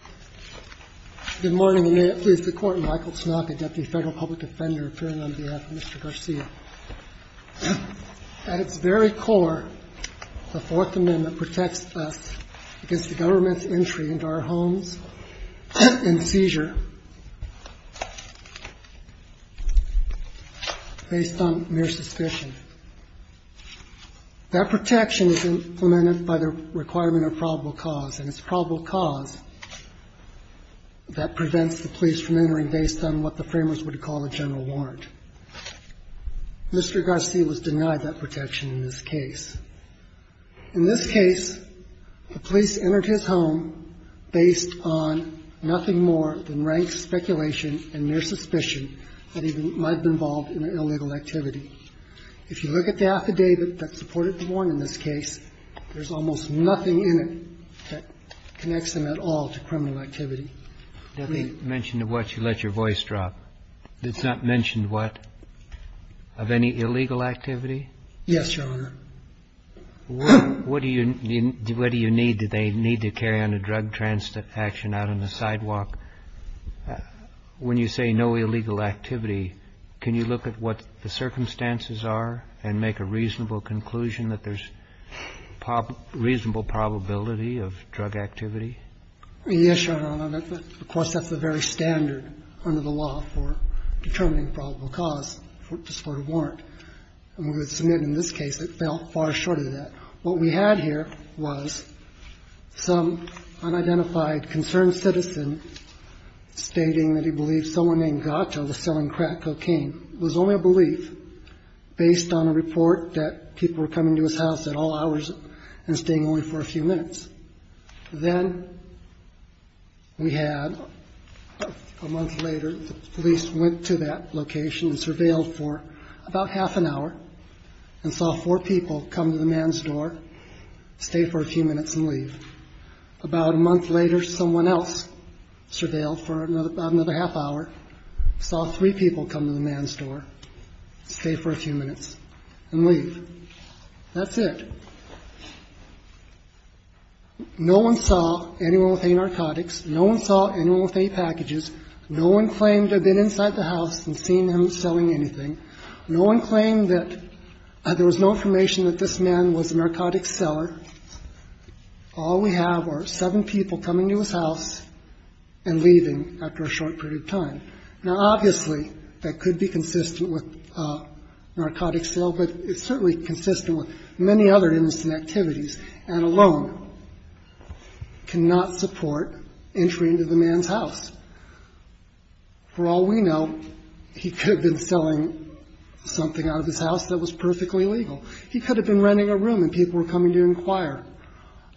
on behalf of Mr. Garcia. At its very core, the Fourth Amendment protects us against the government's entry into our homes in seizure based on mere suspicion. That protection is implemented by the requirement of probable cause, and it's probable cause that prevents the police from entering based on what the framers would call a general warrant. Mr. Garcia was denied that protection in this case. In this case, the police entered his home based on nothing more than rank speculation and mere suspicion that he might have been a criminal. And there's no evidence that the police entered his home based on mere and mere suspicion that he might have been a criminal. And in this case, there's almost nothing in it that connects them at all to criminal activity. And there's almost nothing in it that connects them at all to criminal activity. And in this case, the police entered his home based on mere suspicion that he might have been a criminal. And there's almost nothing in it that connects them at all to criminal activity. Yes, Your Honor. Of course, that's the very standard under the law for determining probable cause for a discorded warrant. And we would submit in this case it fell far short of that. What we had here was some unidentified concerned citizen stating that he believed someone named Gacha was selling crack cocaine. It was only a belief based on a report that people were coming to his house at all hours and staying only for a few minutes. Then we had a month later, the police went to that location and surveilled for about half an hour and saw four people come to the man's door, stay for a few minutes and leave. About a month later, someone else surveilled for another half hour, saw three people come to the man's door, stay for a few minutes and leave. That's it. No one saw anyone with any narcotics. No one saw anyone with any packages. No one claimed to have been inside the house and seen him selling anything. No one claimed that there was no information that this man was a narcotics seller. All we have are seven people coming to his house and leaving after a short period of time. Now, obviously, that could be consistent with narcotics sale, but it's certainly consistent with many other innocent activities and alone cannot support entry into the man's house. For all we know, he could have been selling something out of his house that was perfectly legal. He could have been renting a room and people were coming to inquire.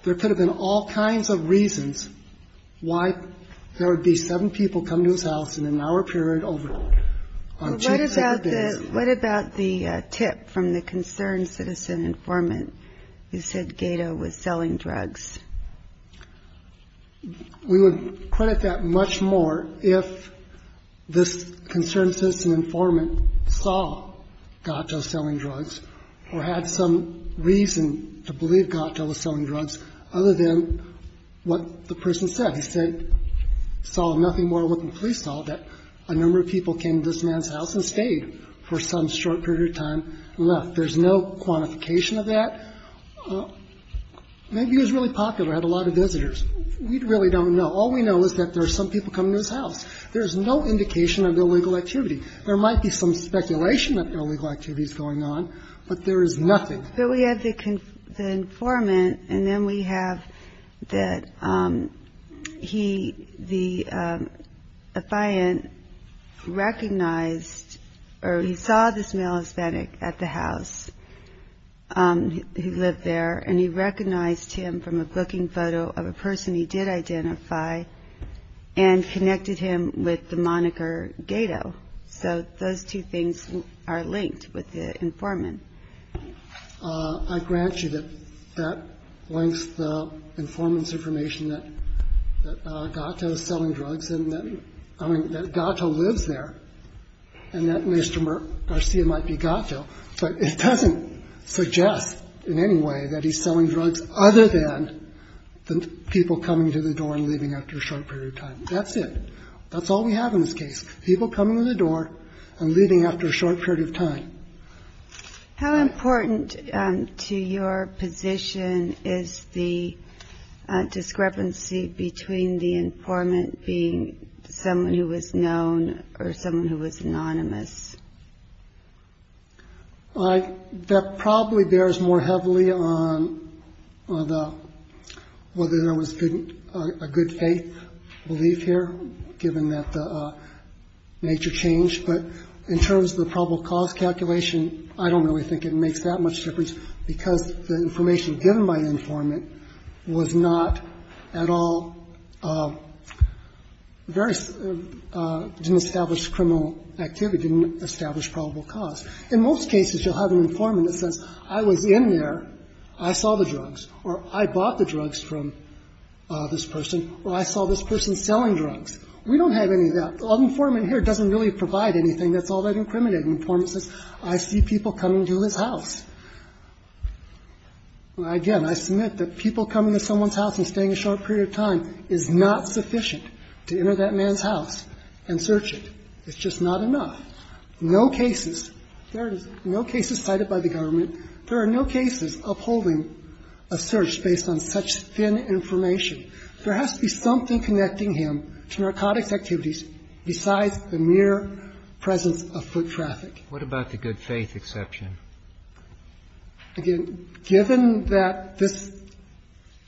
There could have been all kinds of reasons why there would be seven people come to his house and stay for some short period of time and leave. We would credit that much more if this concerned citizen informant saw Gato selling drugs or had some reason to believe Gato was selling drugs other than what the person said. He said he saw nothing more than what the police saw, that a number of people came to this man's house and stayed for some short period of time and left. There's no quantification of that. Maybe he was really popular, had a lot of visitors. We really don't know. All we know is that there are some people coming to his house. There is no indication of illegal activity. There might be some speculation that illegal activity is going on, but there is nothing. We have the informant and then we have that the affiant recognized or he saw this male Hispanic at the house who lived there and he recognized him from a booking photo of a person he did identify and connected him with the moniker Gato. So those two things are linked with the informant. I grant you that that links the informant's information that Gato is selling drugs and that, I mean, that Gato lives there and that Mr. Garcia might be Gato, but it doesn't suggest in any way that he's selling drugs other than the people coming to the door and leaving after a short period of time. That's it. That's all we have in this case. People coming in the door and leaving after a short period of time. How important to your position is the discrepancy between the informant being someone who was known or someone who was anonymous? That probably bears more heavily on the whether there was a good faith belief here, given that the nature changed, but in terms of the probable cause calculation, I don't really think it makes that much difference because the information given by the informant was not at all very, didn't establish criminal activity, didn't establish probable cause. In most cases, you'll have an informant that says, I was in there, I saw the drugs, or I bought the drugs from this person, or I saw this person selling drugs. We don't have any of that. The informant here doesn't really provide anything that's all that incriminating. The informant says, I see people coming to his house. Again, I submit that people coming to someone's house and staying a short period of time is not sufficient to enter that man's house and search it. It's just not enough. No cases, there is no cases cited by the government, there are no cases upholding a search based on such thin information. There has to be something connecting him to narcotics activities besides the mere presence of foot traffic. What about the good faith exception? Again, given that this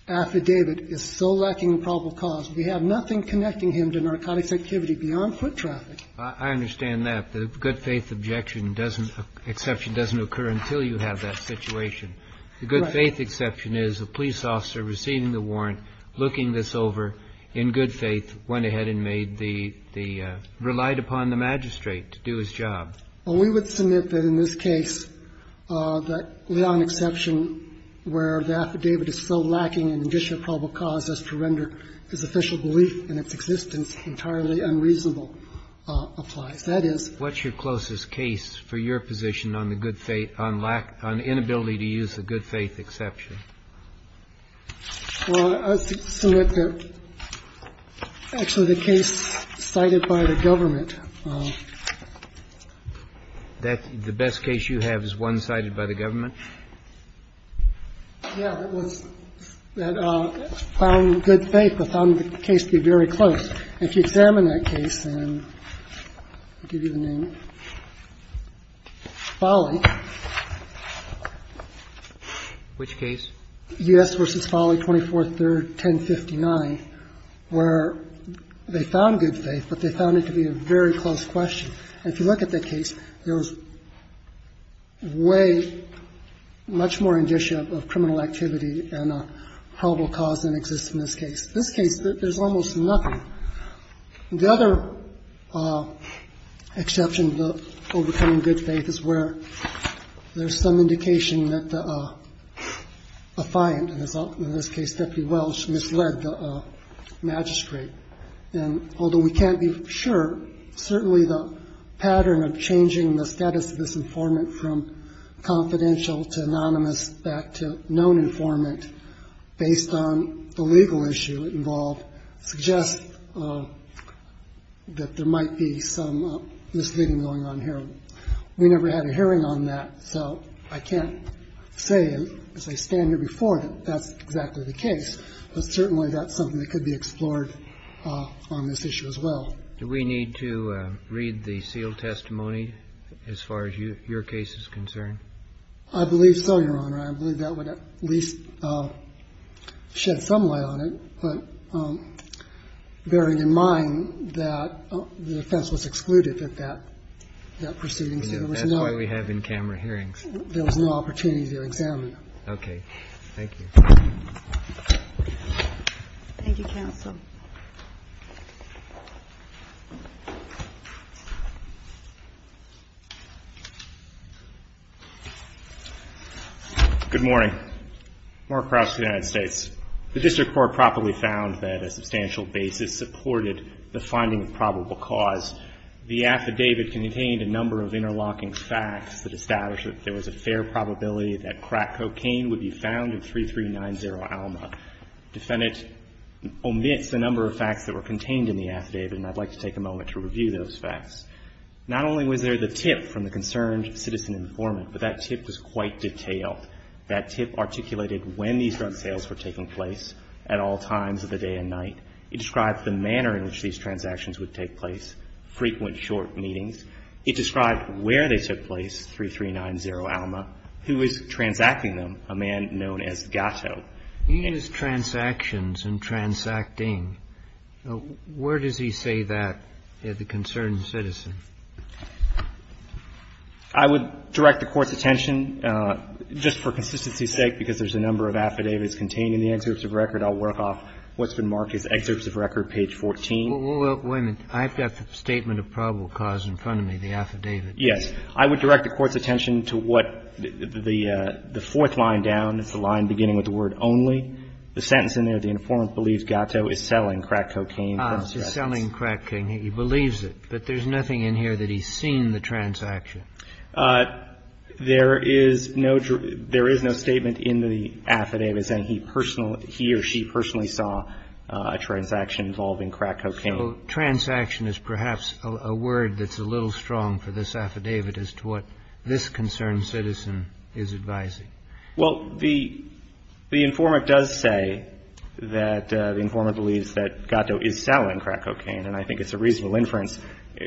affidavit is so lacking in probable cause, we have nothing connecting him to narcotics activity beyond foot traffic. I understand that. The good faith objection doesn't, exception doesn't occur until you have that situation. Right. The good faith exception is a police officer receiving the warrant, looking this over in good faith, went ahead and made the, relied upon the magistrate to do his job. Well, we would submit that in this case, that we have an exception where the affidavit is so lacking in additional probable cause as to render his official belief in its applies. That is. What's your closest case for your position on the good faith, on lack, on inability to use the good faith exception? Well, I would submit that actually the case cited by the government. That the best case you have is one cited by the government? Yeah, that was, that found good faith, but found the case to be very close. If you examine that case, and I'll give you the name, Foley. Which case? U.S. v. Foley, 24th, 1059, where they found good faith, but they found it to be a very close question. And if you look at that case, there was way much more indicia of criminal activity and a probable cause than exists in this case. In this case, there's almost nothing. The other exception to the overcoming good faith is where there's some indication that the affiant, in this case, Deputy Welch, misled the magistrate. And although we can't be sure, certainly the pattern of changing the status of this informant from confidential to anonymous back to known informant based on the legal issue involved suggests that there might be some misleading going on here. We never had a hearing on that, so I can't say as I stand here before that that's exactly the case. But certainly that's something that could be explored on this issue as well. Do we need to read the sealed testimony as far as your case is concerned? I believe so, Your Honor. I believe that would at least shed some light on it. But bearing in mind that the defense was excluded at that proceeding, so there was no. That's why we have in-camera hearings. There was no opportunity to examine them. Okay. Thank you. Thank you, counsel. Good morning. Mark Krause, United States. The District Court properly found that a substantial basis supported the finding of probable cause. The affidavit contained a number of interlocking facts that established that there was a fair probability that crack cocaine would be found in 3390 Alma. It's the number of facts that were contained in the affidavit, and I'd like to take a moment to review those facts. Not only was there the tip from the concerned citizen informant, but that tip was quite detailed. That tip articulated when these drug sales were taking place at all times of the day and night. It described the manner in which these transactions would take place, frequent, short meetings. It described where they took place, 3390 Alma, who was transacting them, a man known as Gatto. He used transactions and transacting. Where does he say that at the concerned citizen? I would direct the Court's attention, just for consistency's sake, because there's a number of affidavits contained in the excerpts of record. I'll work off what's been marked as excerpts of record, page 14. Well, wait a minute. I've got the statement of probable cause in front of me, the affidavit. Yes. I would direct the Court's attention to what the fourth line down is, the line beginning with the word only. The sentence in there, the informant believes Gatto is selling crack cocaine. He's selling crack cocaine. He believes it. But there's nothing in here that he's seen the transaction. There is no statement in the affidavit saying he personally, he or she personally saw a transaction involving crack cocaine. So transaction is perhaps a word that's a little strong for this affidavit as to what this concerned citizen is advising. Well, the informant does say that the informant believes that Gatto is selling crack cocaine, and I think it's a reasonable inference.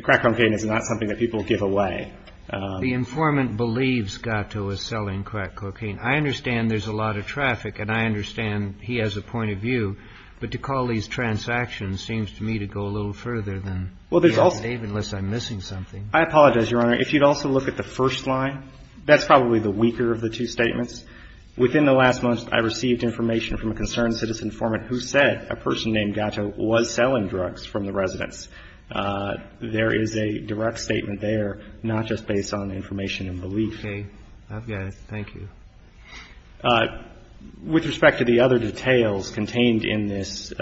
Crack cocaine is not something that people give away. The informant believes Gatto is selling crack cocaine. I understand there's a lot of traffic, and I understand he has a point of view. But to call these transactions seems to me to go a little further than the affidavit unless I'm missing something. I apologize, Your Honor. If you'd also look at the first line, that's probably the weaker of the two statements. Within the last month, I received information from a concerned citizen informant who said a person named Gatto was selling drugs from the residence. There is a direct statement there, not just based on information and belief. Okay. I've got it. Thank you. With respect to the other details contained in this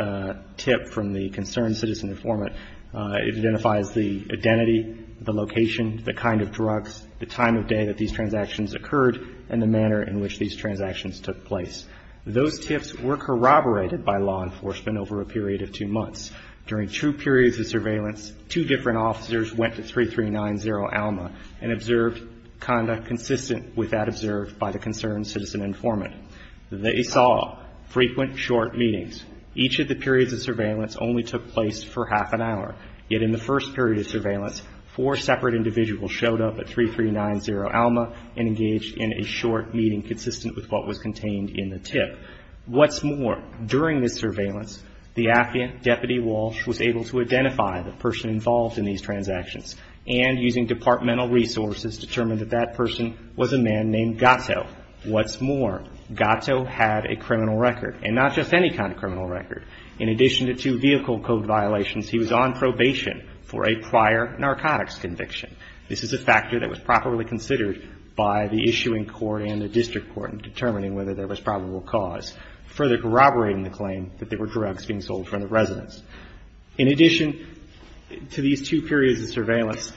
tip from the concerned citizen informant, it identifies the identity, the location, the kind of drugs, the time of day that these transactions occurred, and the manner in which these transactions took place. Those tips were corroborated by law enforcement over a period of two months. During two periods of surveillance, two different officers went to 3390 Alma and observed conduct consistent with that observed by the concerned citizen informant. They saw frequent short meetings. Each of the periods of surveillance only took place for half an hour, yet in the first period of surveillance, four separate individuals showed up at 3390 Alma and engaged in a short meeting consistent with what was contained in the tip. What's more, during this surveillance, the affidavit deputy Walsh was able to identify the person involved in these transactions and using departmental resources determined that that person was a man named Gatto. What's more, Gatto had a criminal record, and not just any kind of criminal record. In addition to two vehicle code violations, he was on probation for a prior narcotics conviction. This is a factor that was properly considered by the issuing court and the district court in determining whether there was probable cause, further corroborating the claim that there were drugs being sold from the residence. In addition to these two periods of surveillance,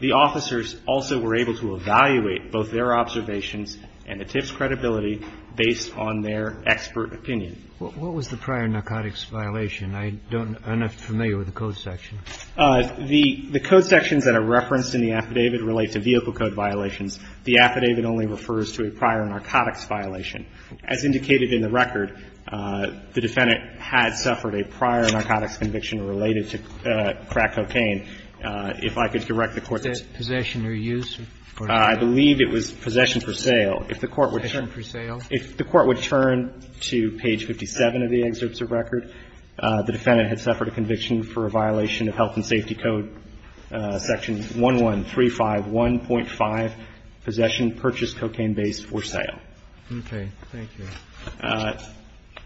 the officers also were able to evaluate both their observations and the tip's credibility based on their expert opinion. What was the prior narcotics violation? I don't know. I'm not familiar with the code section. The code sections that are referenced in the affidavit relate to vehicle code violations. The affidavit only refers to a prior narcotics violation. As indicated in the record, the defendant had suffered a prior narcotics conviction related to crack cocaine. If I could direct the Court to say. Possession or use? I believe it was possession for sale. If the Court would turn. Possession for sale. If the Court would turn to page 57 of the excerpts of record, the defendant had suffered a conviction for a violation of Health and Safety Code section 11351.5, possession, purchase cocaine base for sale. Okay. Thank you.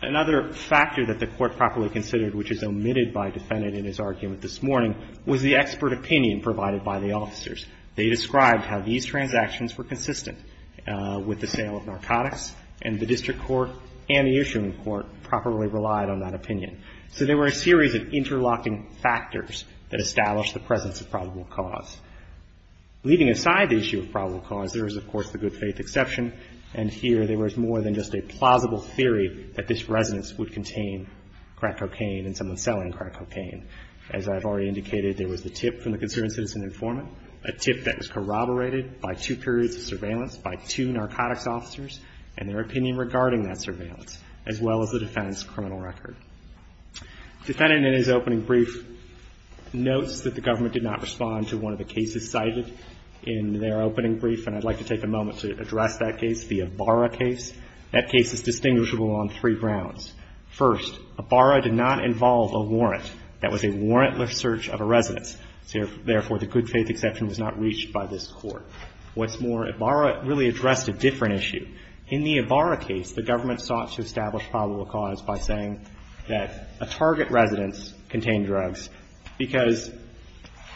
Another factor that the Court properly considered, which is omitted by defendant in his argument this morning, was the expert opinion provided by the officers. They described how these transactions were consistent with the sale of narcotics and the district court and the issuing court properly relied on that opinion. So there were a series of interlocking factors that established the presence of probable cause. Leaving aside the issue of probable cause, there is, of course, the good faith exception. And here there was more than just a plausible theory that this residence would contain crack cocaine and someone selling crack cocaine. As I've already indicated, there was the tip from the concerned citizen informant, a tip that was corroborated by two periods of surveillance, by two narcotics officers and their opinion regarding that surveillance, as well as the defendant's criminal record. Defendant in his opening brief notes that the government did not respond to one of the cases cited in their opening brief, and I'd like to take a moment to address that case, the Ibarra case. That case is distinguishable on three grounds. First, Ibarra did not involve a warrant. That was a warrantless search of a residence. Therefore, the good faith exception was not reached by this Court. What's more, Ibarra really addressed a different issue. In the Ibarra case, the government sought to establish probable cause by saying that a target residence contained drugs because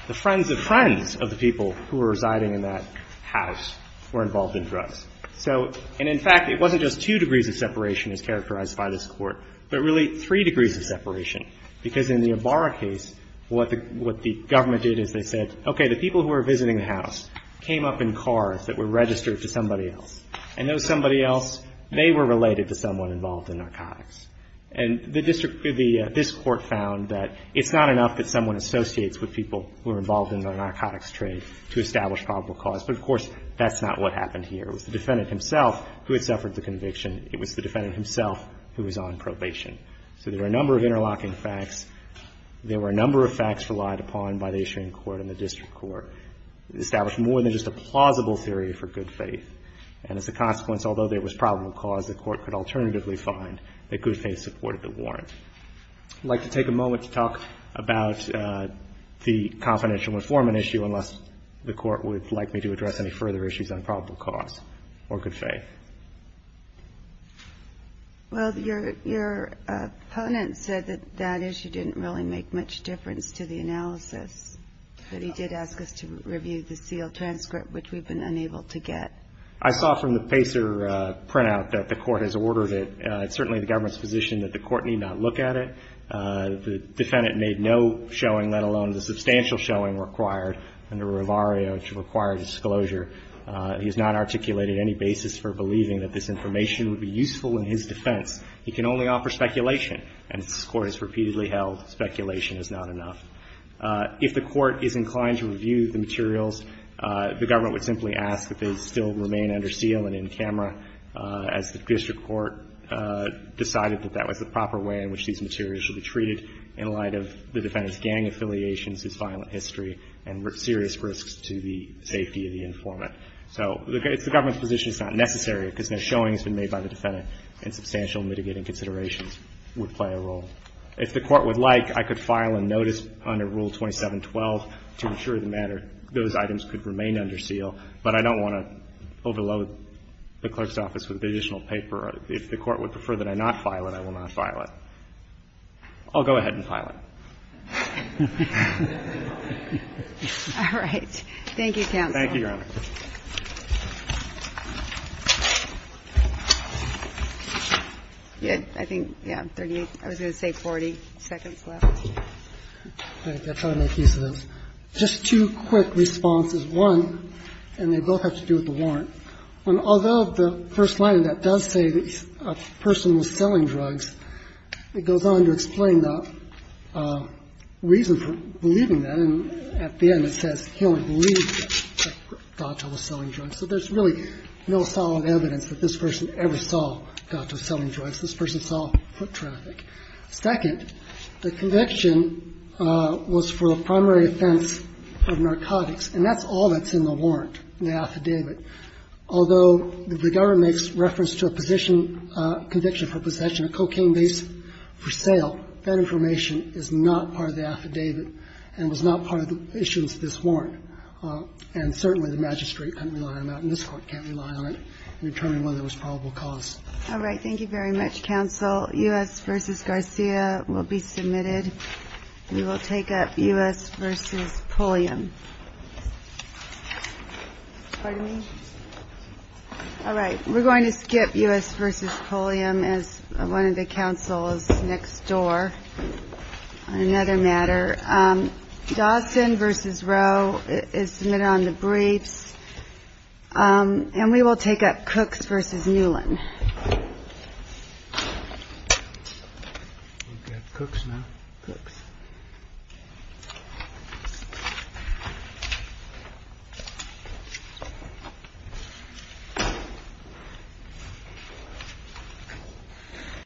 the friends of friends of the people who were residing in that house were involved in drugs. So, and in fact, it wasn't just two degrees of separation as characterized by this Court, but really three degrees of separation. Because in the Ibarra case, what the government did is they said, okay, the people who were visiting the house came up in cars that were registered to somebody else. And those somebody else, they were related to someone involved in narcotics. And the district, this Court found that it's not enough that someone associates with people who are involved in the narcotics trade to establish probable cause. But, of course, that's not what happened here. It was the defendant himself who had suffered the conviction. It was the defendant himself who was on probation. So there were a number of interlocking facts. There were a number of facts relied upon by the issuing court and the district court to establish more than just a plausible theory for good faith. And as a consequence, although there was probable cause, the Court could alternatively find that good faith supported the warrant. I'd like to take a moment to talk about the confidential informant issue, unless the Court would like me to address any further issues on probable cause or good faith. Well, your opponent said that that issue didn't really make much difference to the analysis, but he did ask us to review the sealed transcript, which we've been unable to get. I saw from the Pacer printout that the Court has ordered it. It's certainly the government's position that the Court need not look at it. The defendant made no showing, let alone the substantial showing required under Rivario to require disclosure. He has not articulated any basis for believing that this information would be useful in his defense. He can only offer speculation, and as this Court has repeatedly held, speculation is not enough. If the Court is inclined to review the materials, the government would simply ask that they still remain under seal and in camera, as the district court decided that that was the proper way in which these materials should be treated in light of the defendant's safety of the informant. So it's the government's position it's not necessary because no showing has been made by the defendant, and substantial mitigating considerations would play a role. If the Court would like, I could file a notice under Rule 2712 to ensure the matter those items could remain under seal, but I don't want to overload the clerk's office with additional paper. If the Court would prefer that I not file it, I will not file it. I'll go ahead and file it. All right. Thank you, counsel. Thank you, Your Honor. I think, yeah, 38. I was going to say 40 seconds left. I'll try to make use of this. Just two quick responses. One, and they both have to do with the warrant. Although the first line of that does say that a person was selling drugs, it goes on to explain the reason for believing that, and at the end it says he only believed that Dato was selling drugs. So there's really no solid evidence that this person ever saw Dato selling drugs. This person saw foot traffic. Second, the conviction was for a primary offense of narcotics, and that's all that's in the warrant, in the affidavit. Although the government makes reference to a position, conviction for possession of cocaine based for sale, that information is not part of the affidavit and was not part of the issuance of this warrant. And certainly the magistrate can't rely on that, and this Court can't rely on it in determining whether it was probable cause. All right. Thank you very much, counsel. U.S. v. Garcia will be submitted. We will take up U.S. v. Pulliam. Pardon me? All right. We're going to skip U.S. v. Pulliam as one of the counsels next door on another matter. Dawson v. Roe is submitted on the briefs, and we will take up Cook v. Newland. We've got Cooks now. Cooks.